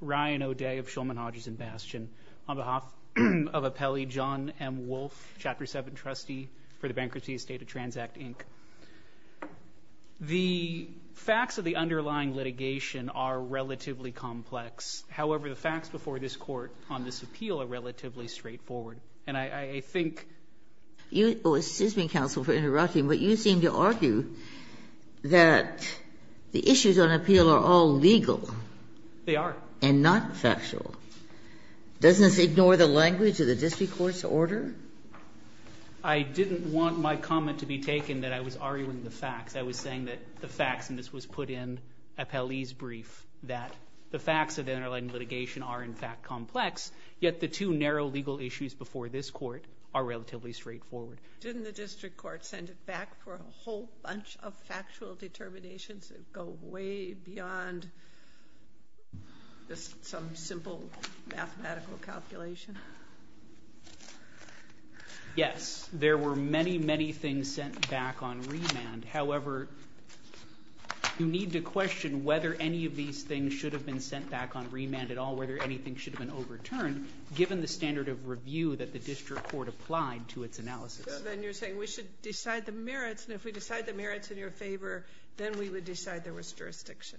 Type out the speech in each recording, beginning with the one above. Ryan O'Day of Shulman Hodges and Bastion, on behalf of Appellee John M. Wolfe, Chapter 7 Trustee for the Bankruptcy Estate of Transact, Inc. The facts of the underlying litigation are relatively complex. However, the facts before this Court on this appeal are relatively straightforward. And I think… Excuse me, counsel, for interrupting, but you seem to argue that the issues on appeal are all legal. They are. And not factual. Doesn't this ignore the language of the district court's order? I didn't want my comment to be taken that I was arguing the facts. I was saying that the facts, and this was put in Appellee's brief, that the facts of the underlying litigation are, in fact, complex, yet the two narrow legal issues before this Court are relatively straightforward. Didn't the district court send it back for a whole bunch of factual determinations that go way beyond just some simple mathematical calculation? Yes. There were many, many things sent back on remand. However, you need to question whether any of these things should have been sent back on remand at all, whether anything should have been overturned, given the standard of review that the district court applied to its analysis. Then you're saying we should decide the merits, and if we decide the merits in your favor, then we would decide there was jurisdiction.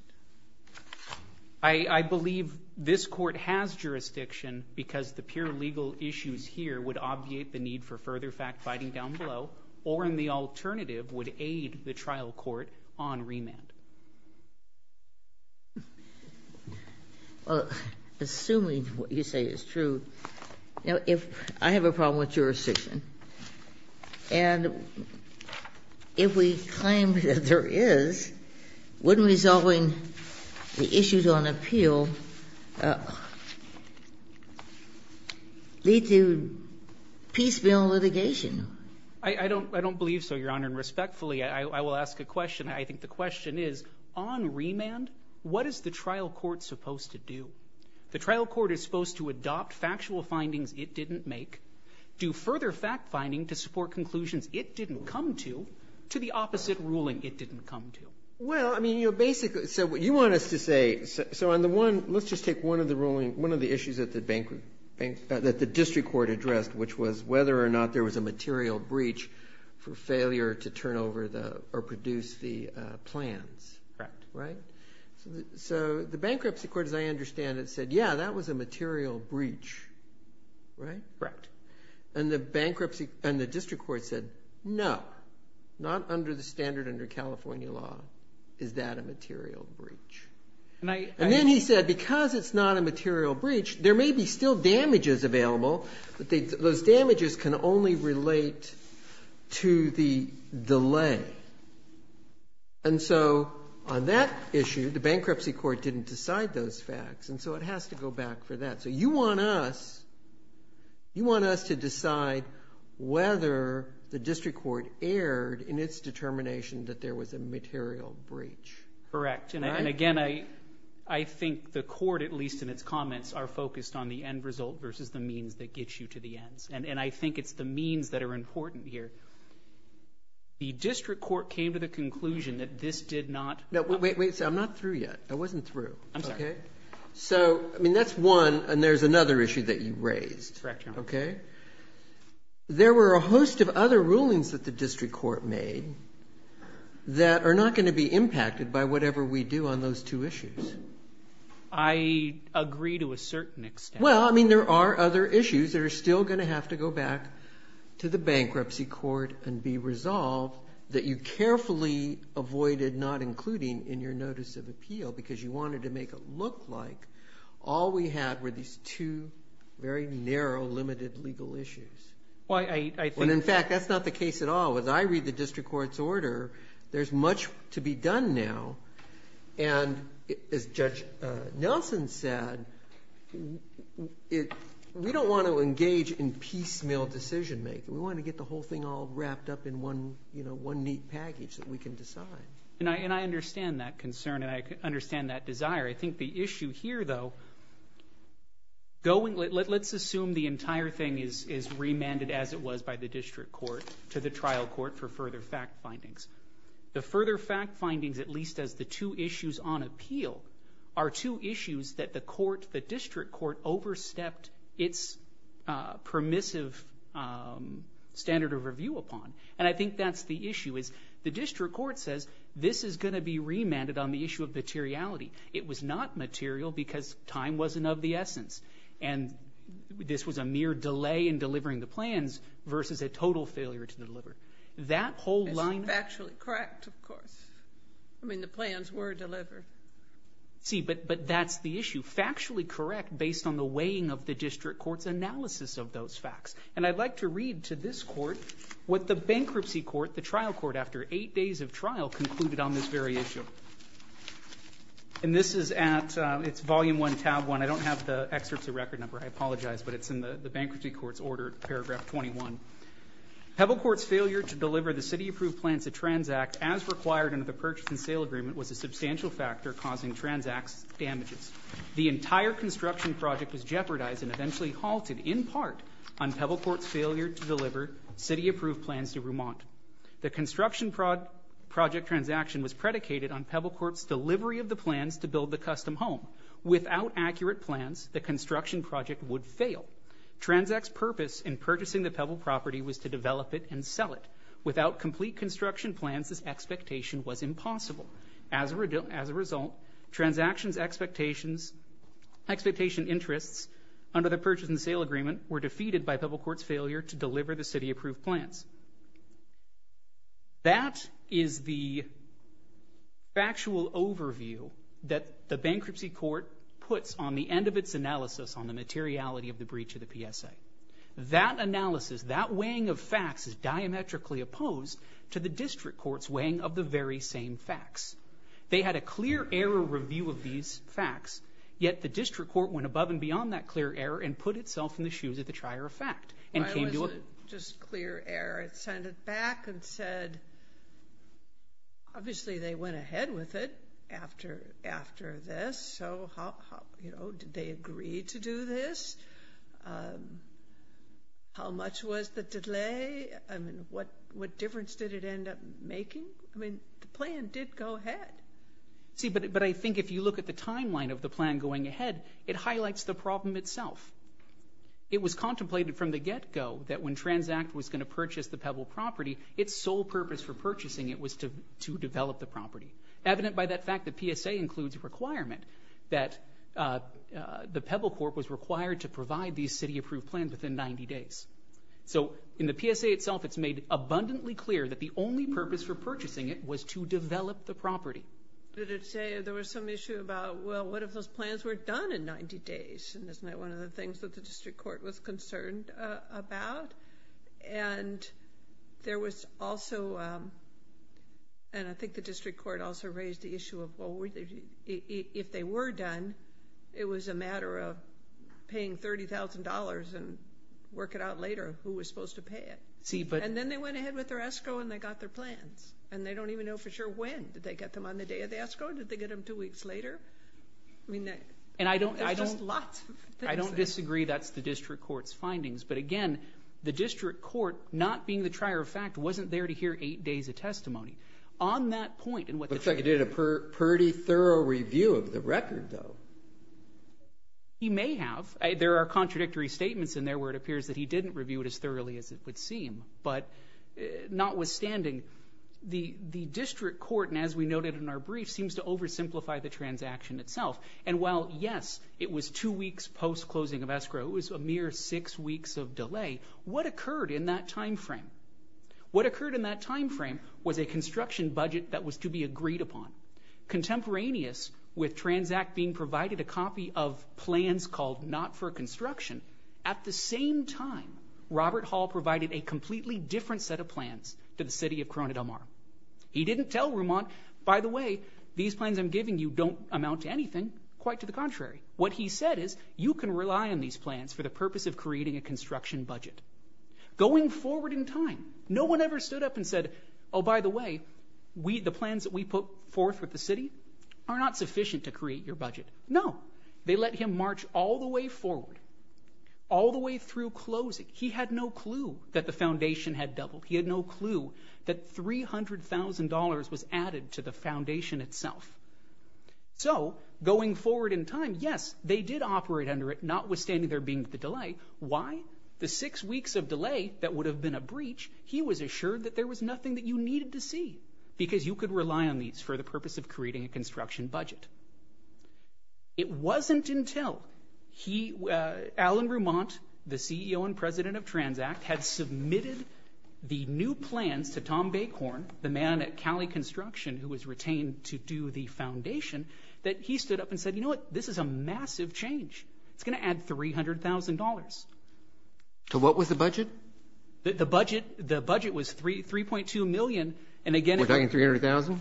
I believe this Court has jurisdiction because the pure legal issues here would obviate the need for further fact-finding down below, or, in the alternative, would aid the trial court on remand. Well, assuming what you say is true, I have a problem with jurisdiction. And if we claim that there is, wouldn't resolving the issues on appeal lead to piecemeal litigation? I don't believe so, Your Honor, and respectfully, I will ask a question. I think the question is, on remand, what is the trial court supposed to do? The trial court is supposed to adopt factual findings it didn't make, do further fact-finding to support conclusions it didn't come to, to the opposite ruling it didn't come to. Well, I mean, you know, basically, so what you want us to say, so on the one, let's just take one of the ruling, one of the issues that the district court addressed, which was whether or not there was a material breach for failure to turn over or produce the plans. Correct. Right? So the bankruptcy court, as I understand it, said, yeah, that was a material breach, right? Correct. And the bankruptcy, and the district court said, no, not under the standard under California law is that a material breach. And then he said, because it's not a material breach, there may be still damages available, but those damages can only relate to the delay. And so on that issue, the bankruptcy court didn't decide those facts, and so it has to go back for that. So you want us, you want us to decide whether the district court erred in its determination that there was a material breach. Correct. And again, I think the court, at least in its comments, are focused on the end result versus the means that gets you to the ends. And I think it's the means that are important here. The district court came to the conclusion that this did not. No, wait, wait. I'm not through yet. I wasn't through. I'm sorry. Okay. So, I mean, that's one, and there's another issue that you raised. Correct, Your Honor. Okay? There were a host of other rulings that the district court made that are not going to be impacted by whatever we do on those two issues. I agree to a certain extent. Well, I mean, there are other issues that are still going to have to go back to the bankruptcy court and be resolved that you carefully avoided not including in your notice of appeal because you wanted to make it look like all we had were these two very narrow, limited legal issues. Well, I think. And, in fact, that's not the case at all. As I read the district court's order, there's much to be done now. And as Judge Nelson said, we don't want to engage in piecemeal decision-making. We want to get the whole thing all wrapped up in one neat package that we can decide. And I understand that concern, and I understand that desire. I think the issue here, though, let's assume the entire thing is remanded as it was by the district court to the trial court for further fact findings. The further fact findings, at least as the two issues on appeal, are two issues that the court, the district court, overstepped its permissive standard of review upon. And I think that's the issue is the district court says this is going to be remanded on the issue of materiality. It was not material because time wasn't of the essence. And this was a mere delay in delivering the plans versus a total failure to deliver. It's factually correct, of course. I mean, the plans were delivered. See, but that's the issue. Factually correct based on the weighing of the district court's analysis of those facts. And I'd like to read to this court what the bankruptcy court, the trial court, after eight days of trial concluded on this very issue. And this is at Volume 1, Tab 1. I don't have the excerpts of record number. I apologize, but it's in the bankruptcy court's order, Paragraph 21. Pebble Court's failure to deliver the city-approved plans to Transact as required under the purchase and sale agreement was a substantial factor causing Transact's damages. The entire construction project was jeopardized and eventually halted in part on Pebble Court's failure to deliver city-approved plans to Remont. The construction project transaction was predicated on Pebble Court's delivery of the plans to build the custom home. Without accurate plans, the construction project would fail. Transact's purpose in purchasing the Pebble property was to develop it and sell it. Without complete construction plans, this expectation was impossible. As a result, Transact's expectation interests under the purchase and sale agreement were defeated by Pebble Court's failure to deliver the city-approved plans. That is the factual overview that the bankruptcy court puts on the end of its analysis on the materiality of the breach of the PSA. That analysis, that weighing of facts, is diametrically opposed to the district court's weighing of the very same facts. They had a clear error review of these facts, yet the district court went above and beyond that clear error and put itself in the shoes of the trier of fact. Why was it just clear error? It sent it back and said, obviously they went ahead with it after this, so did they agree to do this? How much was the delay? I mean, what difference did it end up making? I mean, the plan did go ahead. See, but I think if you look at the timeline of the plan going ahead, it highlights the problem itself. It was contemplated from the get-go that when Transact was going to purchase the Pebble property, its sole purpose for purchasing it was to develop the property. Evident by that fact, the PSA includes a requirement that the Pebble Court was required to provide these city-approved plans within 90 days. So in the PSA itself, it's made abundantly clear that the only purpose for purchasing it was to develop the property. There was some issue about, well, what if those plans were done in 90 days? And isn't that one of the things that the district court was concerned about? And there was also, and I think the district court also raised the issue of, well, if they were done, it was a matter of paying $30,000 and work it out later who was supposed to pay it. And then they went ahead with their escrow and they got their plans. And they don't even know for sure when. Did they get them on the day of the escrow? Did they get them two weeks later? I mean, there's just lots of things there. I don't disagree that's the district court's findings. But again, the district court, not being the trier of fact, wasn't there to hear eight days of testimony. On that point, and what the – Looks like he did a pretty thorough review of the record, though. He may have. There are contradictory statements in there where it appears that he didn't review it as thoroughly as it would seem. But notwithstanding, the district court, and as we noted in our brief, seems to oversimplify the transaction itself. And while, yes, it was two weeks post-closing of escrow, it was a mere six weeks of delay, what occurred in that timeframe? What occurred in that timeframe was a construction budget that was to be agreed upon. Contemporaneous with Transact being provided a copy of plans called not for construction, at the same time, Robert Hall provided a completely different set of plans to the city of Corona del Mar. He didn't tell Vermont, by the way, these plans I'm giving you don't amount to anything. Quite to the contrary. What he said is, you can rely on these plans for the purpose of creating a construction budget. Going forward in time, no one ever stood up and said, oh, by the way, the plans that we put forth with the city are not sufficient to create your budget. No. They let him march all the way forward, all the way through closing. He had no clue that the foundation had doubled. He had no clue that $300,000 was added to the foundation itself. So, going forward in time, yes, they did operate under it, notwithstanding there being the delay. Why? The six weeks of delay that would have been a breach, he was assured that there was nothing that you needed to see, because you could rely on these for the purpose of creating a construction budget. It wasn't until he, Alan Remont, the CEO and president of Transact, had submitted the new plans to Tom Bacon, the man at Cali Construction who was retained to do the foundation, that he stood up and said, you know what, this is a massive change. It's going to add $300,000. To what was the budget? The budget was $3.2 million. We're talking $300,000?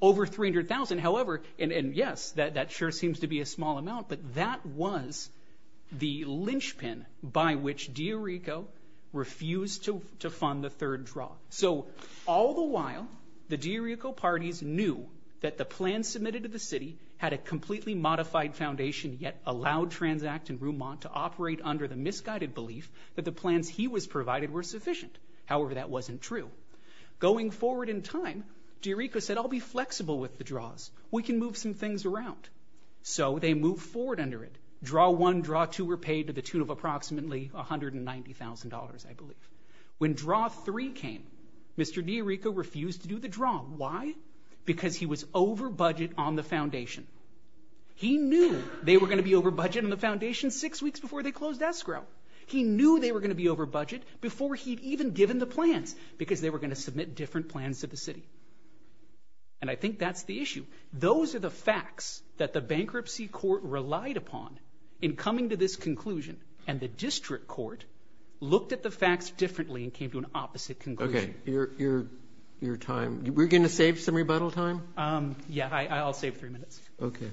Over $300,000, however, and yes, that sure seems to be a small amount, but that was the linchpin by which DiRico refused to fund the third draw. So, all the while, the DiRico parties knew that the plan submitted to the city had a completely modified foundation, yet allowed Transact and Remont to operate under the misguided belief that the plans he was provided were sufficient. However, that wasn't true. Going forward in time, DiRico said, I'll be flexible with the draws. We can move some things around. So, they moved forward under it. Draw one, draw two were paid to the tune of approximately $190,000, I believe. When draw three came, Mr. DiRico refused to do the draw. Why? Because he was over budget on the foundation. He knew they were going to be over budget on the foundation six weeks before they closed escrow. He knew they were going to be over budget before he'd even given the plans, because they were going to submit different plans to the city. And I think that's the issue. Those are the facts that the bankruptcy court relied upon in coming to this conclusion, and the district court looked at the facts differently and came to an opposite conclusion. Okay. Your time. We're going to save some rebuttal time? Yeah. I'll save three minutes. Okay.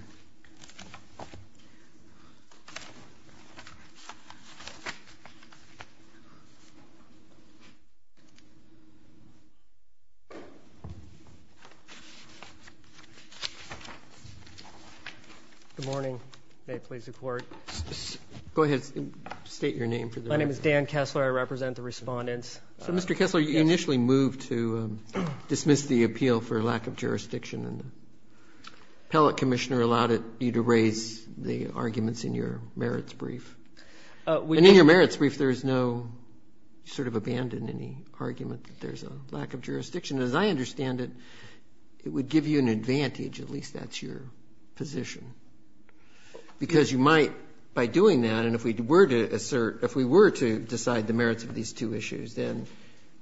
Good morning. May it please the Court. Go ahead. State your name for the record. My name is Dan Kessler. I represent the Respondents. So, Mr. Kessler, you initially moved to dismiss the appeal for lack of jurisdiction, and the appellate commissioner allowed you to raise the arguments in your merits brief. And in your merits brief, there's no sort of abandon any argument that there's a lack of jurisdiction. As I understand it, it would give you an advantage, at least that's your position, because you might, by doing that, and if we were to assert, if we were to decide the merits of these two issues, then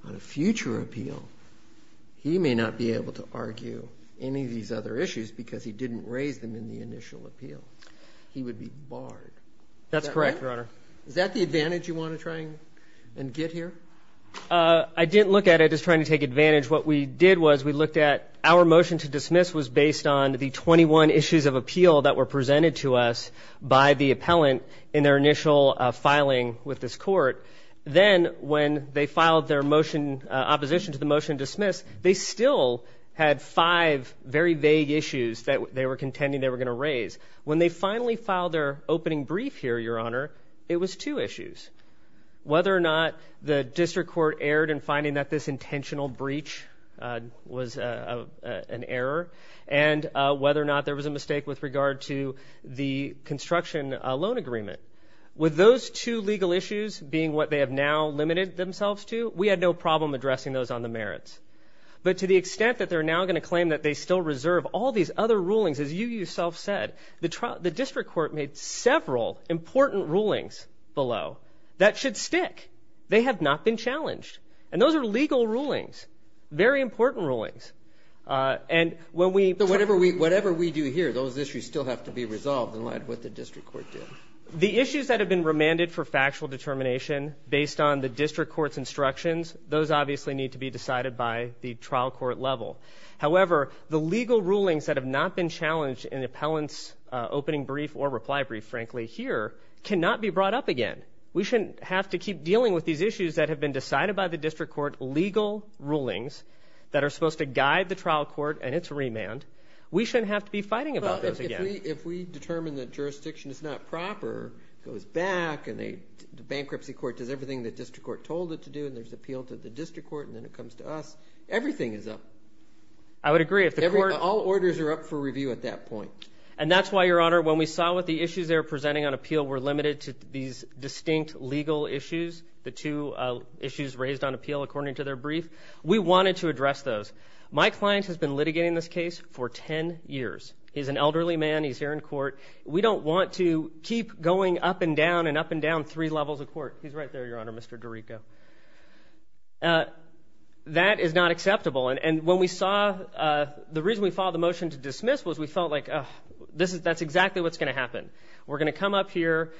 on a future appeal, he may not be able to argue any of these other issues because he didn't raise them in the initial appeal. He would be barred. That's correct, Your Honor. Is that right? Is that the advantage you want to try and get here? I didn't look at it as trying to take advantage. What we did was we looked at our motion to dismiss was based on the 21 issues of appeal that were presented to us by the appellant in their initial filing with this court. Then when they filed their motion, opposition to the motion to dismiss, they still had five very vague issues that they were contending they were going to raise. When they finally filed their opening brief here, Your Honor, it was two issues, whether or not the district court erred in finding that this intentional breach was an error and whether or not there was a mistake with regard to the construction loan agreement. With those two legal issues being what they have now limited themselves to, we had no problem addressing those on the merits. But to the extent that they're now going to claim that they still reserve all these other rulings, as you yourself said, the district court made several important rulings below that should stick. They have not been challenged. And those are legal rulings, very important rulings. So whatever we do here, those issues still have to be resolved in light of what the district court did. The issues that have been remanded for factual determination based on the district court's instructions, those obviously need to be decided by the trial court level. However, the legal rulings that have not been challenged in the appellant's opening brief or reply brief, frankly, here cannot be brought up again. We shouldn't have to keep dealing with these issues that have been decided by the district court, legal rulings that are supposed to guide the trial court and its remand. We shouldn't have to be fighting about those again. Well, if we determine that jurisdiction is not proper, it goes back, and the bankruptcy court does everything the district court told it to do, and there's appeal to the district court, and then it comes to us, everything is up. I would agree. All orders are up for review at that point. And that's why, Your Honor, when we saw what the issues they were presenting on appeal were limited to these distinct legal issues, the two issues raised on appeal according to their brief, we wanted to address those. My client has been litigating this case for 10 years. He's an elderly man. He's here in court. We don't want to keep going up and down and up and down three levels of court. He's right there, Your Honor, Mr. DiRico. That is not acceptable. And when we saw the reason we filed the motion to dismiss was we felt like, that's exactly what's going to happen. We're going to come up here.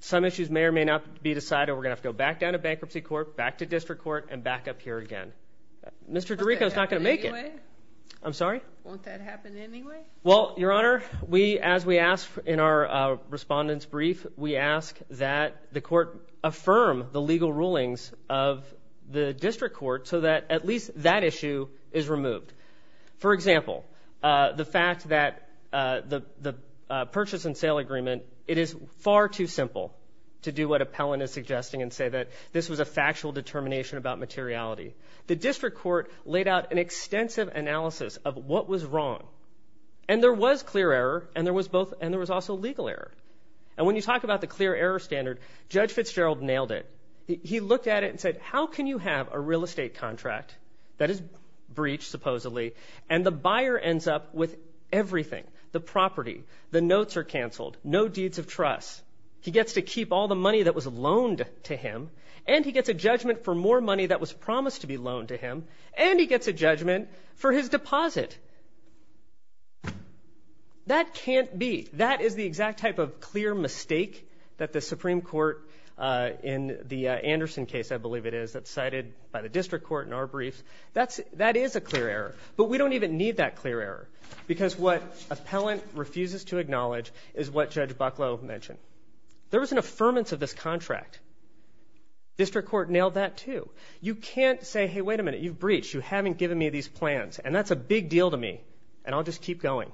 Some issues may or may not be decided. We're going to have to go back down to bankruptcy court, back to district court, and back up here again. Mr. DiRico is not going to make it. Won't that happen anyway? I'm sorry? Won't that happen anyway? Well, Your Honor, as we ask in our respondent's brief, we ask that the court affirm the legal rulings of the district court so that at least that issue is removed. For example, the fact that the purchase and sale agreement, it is far too simple to do what Appellant is suggesting and say that this was a factual determination about materiality. The district court laid out an extensive analysis of what was wrong. And there was clear error, and there was also legal error. And when you talk about the clear error standard, Judge Fitzgerald nailed it. He looked at it and said, how can you have a real estate contract that is breached, supposedly, and the buyer ends up with everything, the property, the notes are canceled, no deeds of trust. He gets to keep all the money that was loaned to him, and he gets a judgment for more money that was promised to be loaned to him, and he gets a judgment for his deposit. That can't be. That is the exact type of clear mistake that the Supreme Court in the Anderson case, I believe it is, that's cited by the district court in our briefs. That is a clear error. But we don't even need that clear error because what Appellant refuses to acknowledge is what Judge Bucklow mentioned. There was an affirmance of this contract. District court nailed that, too. You can't say, hey, wait a minute, you've breached. You haven't given me these plans, and that's a big deal to me, and I'll just keep going.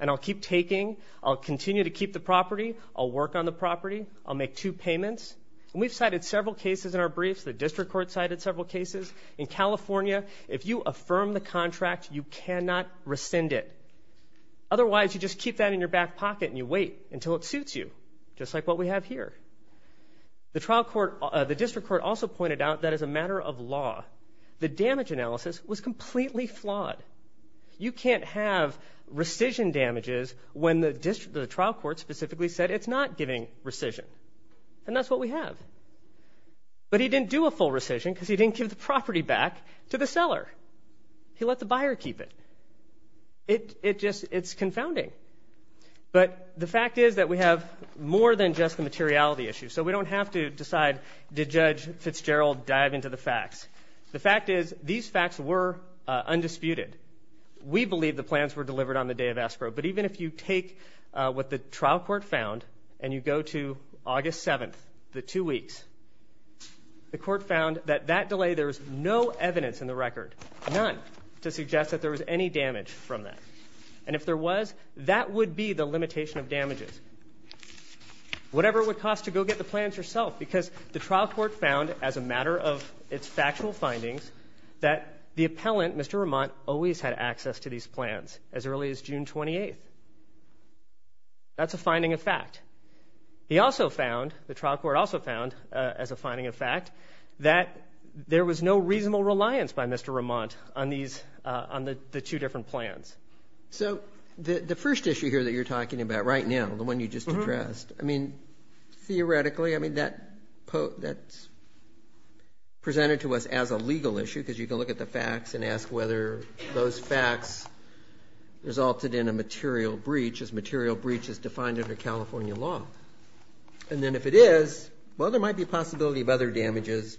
And I'll keep taking. I'll continue to keep the property. I'll work on the property. I'll make two payments. And we've cited several cases in our briefs. The district court cited several cases. In California, if you affirm the contract, you cannot rescind it. Otherwise, you just keep that in your back pocket and you wait until it suits you, just like what we have here. The district court also pointed out that as a matter of law, the damage analysis was completely flawed. You can't have rescission damages when the trial court specifically said it's not giving rescission. And that's what we have. But he didn't do a full rescission because he didn't give the property back to the seller. He let the buyer keep it. It's confounding. But the fact is that we have more than just the materiality issue. So we don't have to decide, did Judge Fitzgerald dive into the facts? The fact is these facts were undisputed. We believe the plans were delivered on the day of escrow. But even if you take what the trial court found and you go to August 7th, the two weeks, the court found that that delay, there was no evidence in the record, none, to suggest that there was any damage from that. And if there was, that would be the limitation of damages. Whatever it would cost to go get the plans yourself because the trial court found, as a matter of its factual findings, that the appellant, Mr. Remont, always had access to these plans as early as June 28th. That's a finding of fact. He also found, the trial court also found, as a finding of fact, that there was no reasonable reliance by Mr. Remont on these, on the two different plans. So the first issue here that you're talking about right now, the one you just addressed, I mean, theoretically, I mean, that's presented to us as a legal issue because you can look at the facts and ask whether those facts resulted in a material breach, as material breach is defined under California law. And then if it is, well, there might be a possibility of other damages,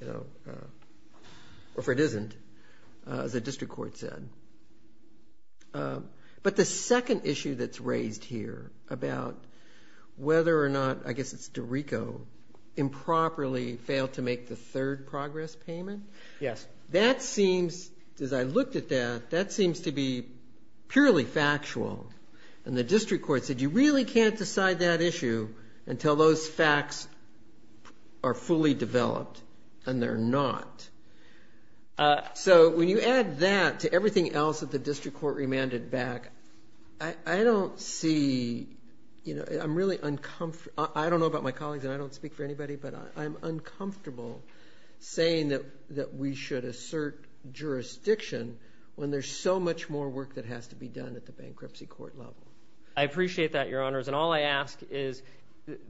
you know, or if it isn't, as the district court said. But the second issue that's raised here about whether or not, I guess it's DiRico, improperly failed to make the third progress payment, that seems, as I looked at that, that seems to be purely factual. And the district court said you really can't decide that issue until those facts are fully developed, and they're not. So when you add that to everything else that the district court remanded back, I don't see, you know, I'm really uncomfortable, I don't know about my colleagues and I don't speak for anybody, but I'm uncomfortable saying that we should assert jurisdiction when there's so much more work that has to be done at the bankruptcy court level. I appreciate that, Your Honors, and all I ask is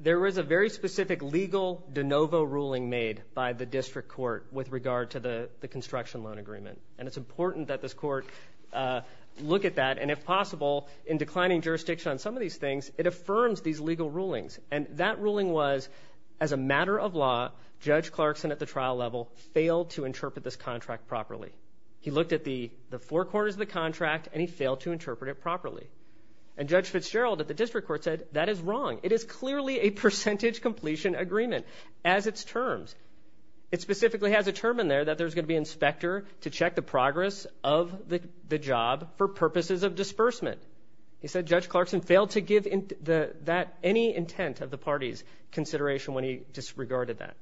there is a very specific legal de novo ruling made by the district court with regard to the construction loan agreement. And it's important that this court look at that, and if possible, in declining jurisdiction on some of these things, it affirms these legal rulings. And that ruling was, as a matter of law, Judge Clarkson at the trial level failed to interpret this contract properly. He looked at the four quarters of the contract, and he failed to interpret it properly. And Judge Fitzgerald at the district court said, that is wrong, it is clearly a percentage completion agreement as its terms. It specifically has a term in there that there's going to be an inspector to check the progress of the job for purposes of disbursement. He said Judge Clarkson failed to give that any intent of the party's consideration when he disregarded that.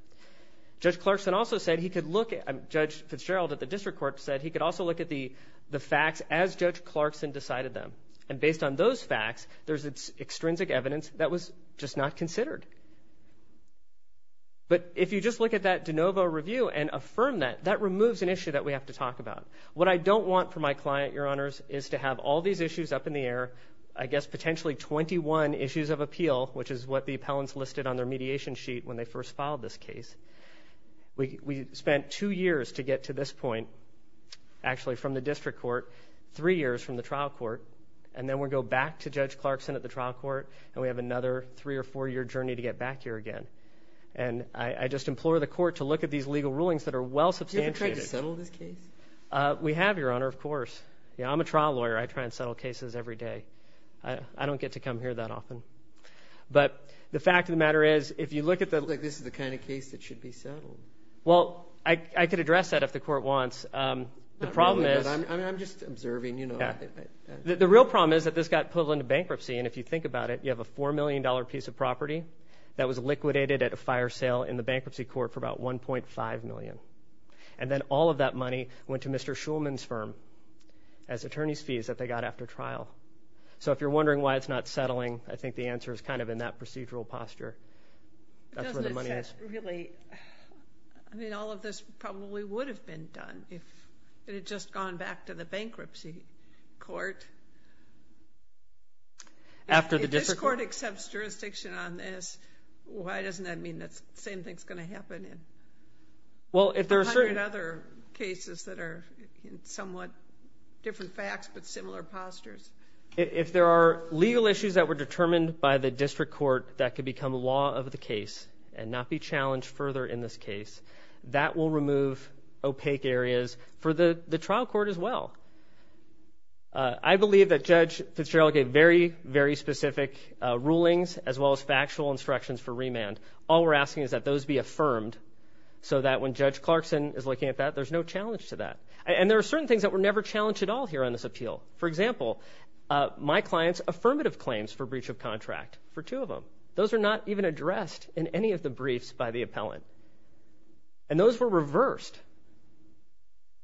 Judge Clarkson also said he could look at, Judge Fitzgerald at the district court said he could also look at the facts as Judge Clarkson decided them. And based on those facts, there's extrinsic evidence that was just not considered. But if you just look at that de novo review and affirm that, that removes an issue that we have to talk about. What I don't want for my client, Your Honors, is to have all these issues up in the air, I guess potentially 21 issues of appeal, which is what the appellants listed on their mediation sheet when they first filed this case. We spent two years to get to this point, actually from the district court, three years from the trial court, and then we go back to Judge Clarkson at the trial court, and we have another three or four year journey to get back here again. And I just implore the court to look at these legal rulings that are well substantiated. Do you ever try to settle this case? We have, Your Honor, of course. I'm a trial lawyer, I try and settle cases every day. I don't get to come here that often. But the fact of the matter is, if you look at the... It looks like this is the kind of case that should be settled. Well, I could address that if the court wants. The problem is... I'm just observing, you know. The real problem is that this got put into bankruptcy, and if you think about it, you have a $4 million piece of property that was liquidated at a fire sale in the bankruptcy court for about $1.5 million. And then all of that money went to Mr. So if you're wondering why it's not settling, I think the answer is kind of in that procedural posture. That's where the money is. I mean, all of this probably would have been done if it had just gone back to the bankruptcy court. If this court accepts jurisdiction on this, why doesn't that mean the same thing is going to happen in 100 other cases that are somewhat different facts but similar postures? If there are legal issues that were determined by the district court that could become law of the case and not be challenged further in this case, that will remove opaque areas for the trial court as well. I believe that Judge Fitzgerald gave very, very specific rulings as well as factual instructions for remand. All we're asking is that those be affirmed so that when Judge Clarkson is looking at that, there's no challenge to that. And there are certain things that were never challenged at all here on this appeal. For example, my client's affirmative claims for breach of contract for two of them. Those are not even addressed in any of the briefs by the appellant. And those were reversed.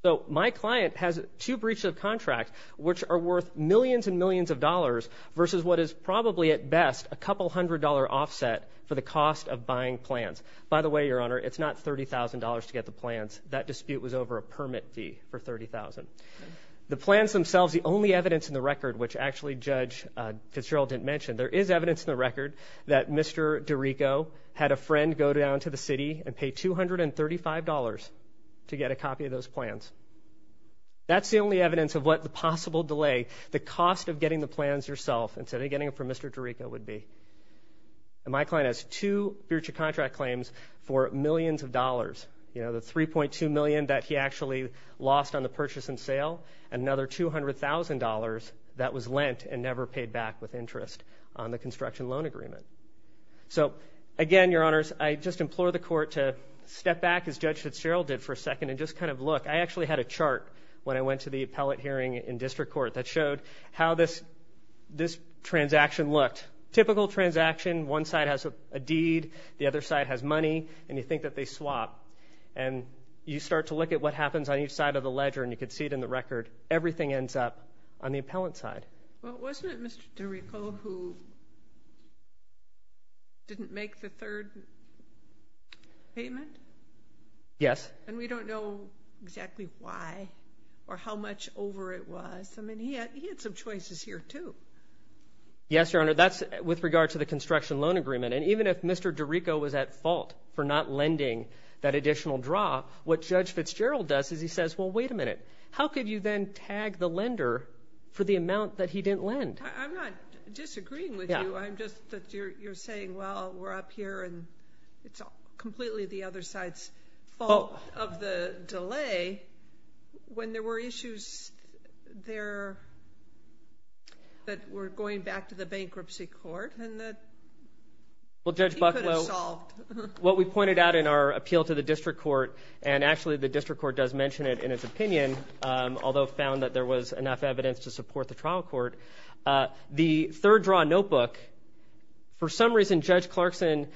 So my client has two breaches of contract which are worth millions and millions of dollars versus what is probably at best a couple hundred dollar offset for the cost of buying plans. By the way, Your Honor, it's not $30,000 to get the plans. That dispute was over a permit fee for $30,000. The plans themselves, the only evidence in the record which actually Judge Fitzgerald didn't mention, there is evidence in the record that Mr. DiRico had a friend go down to the city and pay $235 to get a copy of those plans. That's the only evidence of what the possible delay, the cost of getting the plans yourself instead of getting them from Mr. DiRico would be. And my client has two breach of contract claims for millions of dollars. You know, the $3.2 million that he actually lost on the purchase and sale and another $200,000 that was lent and never paid back with interest on the construction loan agreement. So, again, Your Honors, I just implore the court to step back as Judge Fitzgerald did for a second and just kind of look. I actually had a chart when I went to the appellate hearing in district court that showed how this transaction looked. Typical transaction, one side has a deed, the other side has money, and you think that they swap. And you start to look at what happens on each side of the ledger, and you can see it in the record. Everything ends up on the appellant's side. Well, wasn't it Mr. DiRico who didn't make the third payment? Yes. And we don't know exactly why or how much over it was. I mean, he had some choices here too. Yes, Your Honor, that's with regard to the construction loan agreement. And even if Mr. DiRico was at fault for not lending that additional draw, what Judge Fitzgerald does is he says, well, wait a minute, how could you then tag the lender for the amount that he didn't lend? I'm not disagreeing with you. I'm just that you're saying, well, we're up here and it's completely the other side's fault of the delay. When there were issues there that were going back to the bankruptcy court and that he could have solved. Well, Judge Bucklow, what we pointed out in our appeal to the district court, and actually the district court does mention it in its opinion, although found that there was enough evidence to support the trial court, the third draw notebook, for some reason, Judge Clarkson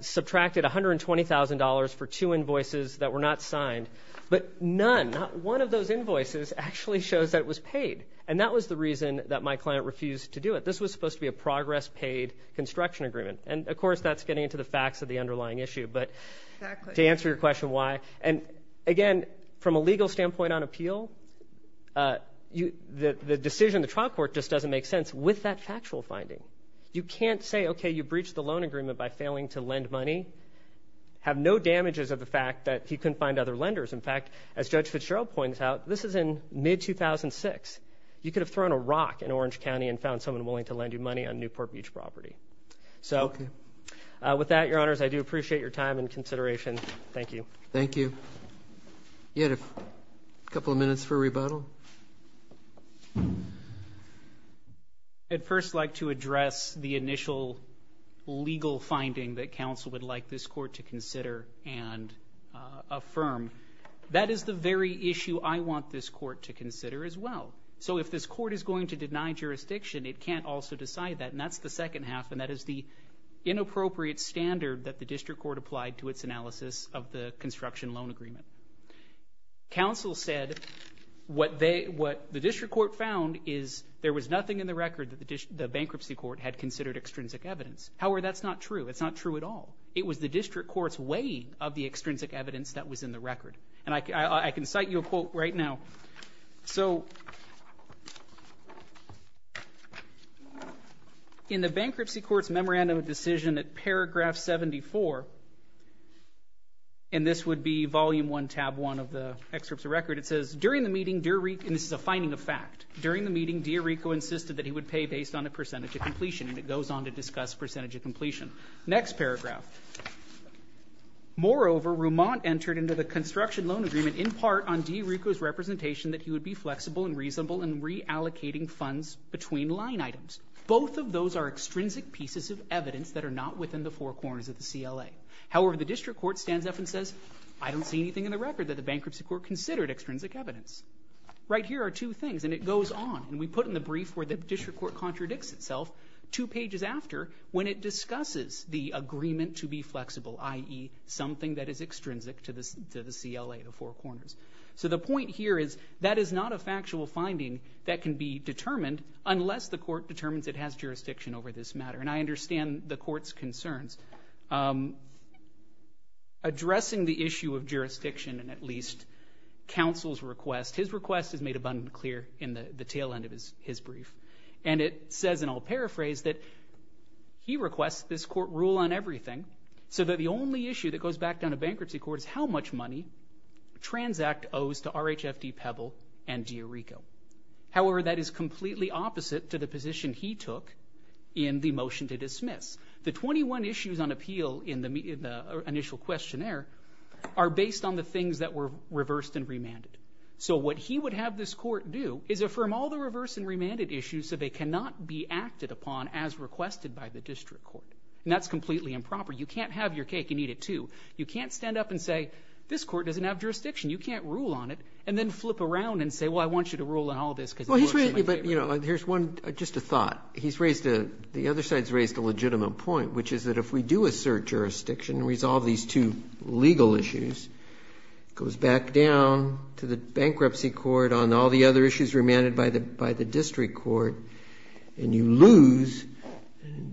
subtracted $120,000 for two invoices that were not signed. But none, not one of those invoices actually shows that it was paid. And that was the reason that my client refused to do it. This was supposed to be a progress paid construction agreement. And, of course, that's getting into the facts of the underlying issue. But to answer your question why, and, again, from a legal standpoint on appeal, the decision in the trial court just doesn't make sense with that factual finding. You can't say, okay, you breached the loan agreement by failing to lend money, have no damages of the fact that he couldn't find other lenders. In fact, as Judge Fitzgerald points out, this is in mid-2006. You could have thrown a rock in Orange County and found someone willing to lend you money on Newport Beach property. So with that, Your Honors, I do appreciate your time and consideration. Thank you. Thank you. You had a couple of minutes for rebuttal. I'd first like to address the initial legal finding that counsel would like this court to consider and affirm. That is the very issue I want this court to consider as well. So if this court is going to deny jurisdiction, it can't also decide that, and that's the second half, and that is the inappropriate standard that the district court applied to its analysis of the construction loan agreement. Counsel said what the district court found is there was nothing in the record that the bankruptcy court had considered extrinsic evidence. However, that's not true. It's not true at all. It was the district court's weighing of the extrinsic evidence that was in the record. And I can cite you a quote right now. So in the bankruptcy court's memorandum of decision at Paragraph 74, and this would be Volume 1, Tab 1 of the excerpt of the record, it says, during the meeting, Dear Rico, and this is a finding of fact, during the meeting, Dear Rico insisted that he would pay based on a percentage of completion, and it goes on to discuss percentage of completion. Next paragraph. Moreover, Rumont entered into the construction loan agreement in part on Dear Rico's representation that he would be flexible and reasonable in reallocating funds between line items. Both of those are extrinsic pieces of evidence that are not within the four corners of the CLA. However, the district court stands up and says, I don't see anything in the record that the bankruptcy court considered extrinsic evidence. Right here are two things, and it goes on, and we put in the brief where the district court contradicts itself, two pages after, when it discusses the agreement to be flexible, i.e., something that is extrinsic to the CLA of four corners. So the point here is that is not a factual finding that can be determined unless the court determines it has jurisdiction over this matter, and I understand the court's concerns. Addressing the issue of jurisdiction, and at least counsel's request, his request is made abundantly clear in the tail end of his brief, and it says, and I'll paraphrase, that he requests this court rule on everything so that the only issue that goes back down to bankruptcy court is how much money Transact owes to RHFD Pebble and Dear Rico. However, that is completely opposite to the position he took in the motion to dismiss. The 21 issues on appeal in the initial questionnaire are based on the things that were reversed and remanded. So what he would have this court do is affirm all the reversed and remanded issues so they cannot be acted upon as requested by the district court. And that's completely improper. You can't have your cake and eat it, too. You can't stand up and say, this court doesn't have jurisdiction. You can't rule on it, and then flip around and say, well, I want you to rule on all this because it works in my favor. Roberts. But, you know, here's one, just a thought. He's raised a, the other side's raised a legitimate point, which is that if we do assert jurisdiction and resolve these two legal issues, it goes back down to the bankruptcy court on all the other issues remanded by the district court, and you lose,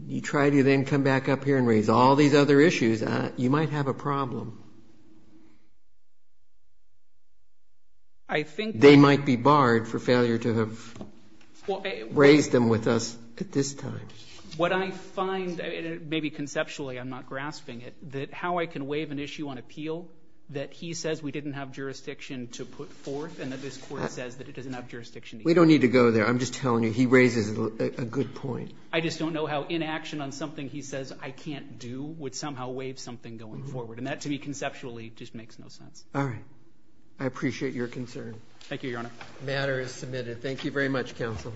you try to then come back up here and raise all these other issues, you might have a problem. They might be barred for failure to have raised them with us at this time. What I find, maybe conceptually, I'm not grasping it, that how I can waive an issue on appeal that he says we didn't have jurisdiction to put forth and that this court says that it doesn't have jurisdiction. We don't need to go there. I'm just telling you he raises a good point. I just don't know how inaction on something he says I can't do would somehow waive something going forward. And that to me conceptually just makes no sense. All right. I appreciate your concern. Thank you, Your Honor. The matter is submitted. Thank you very much, Counsel.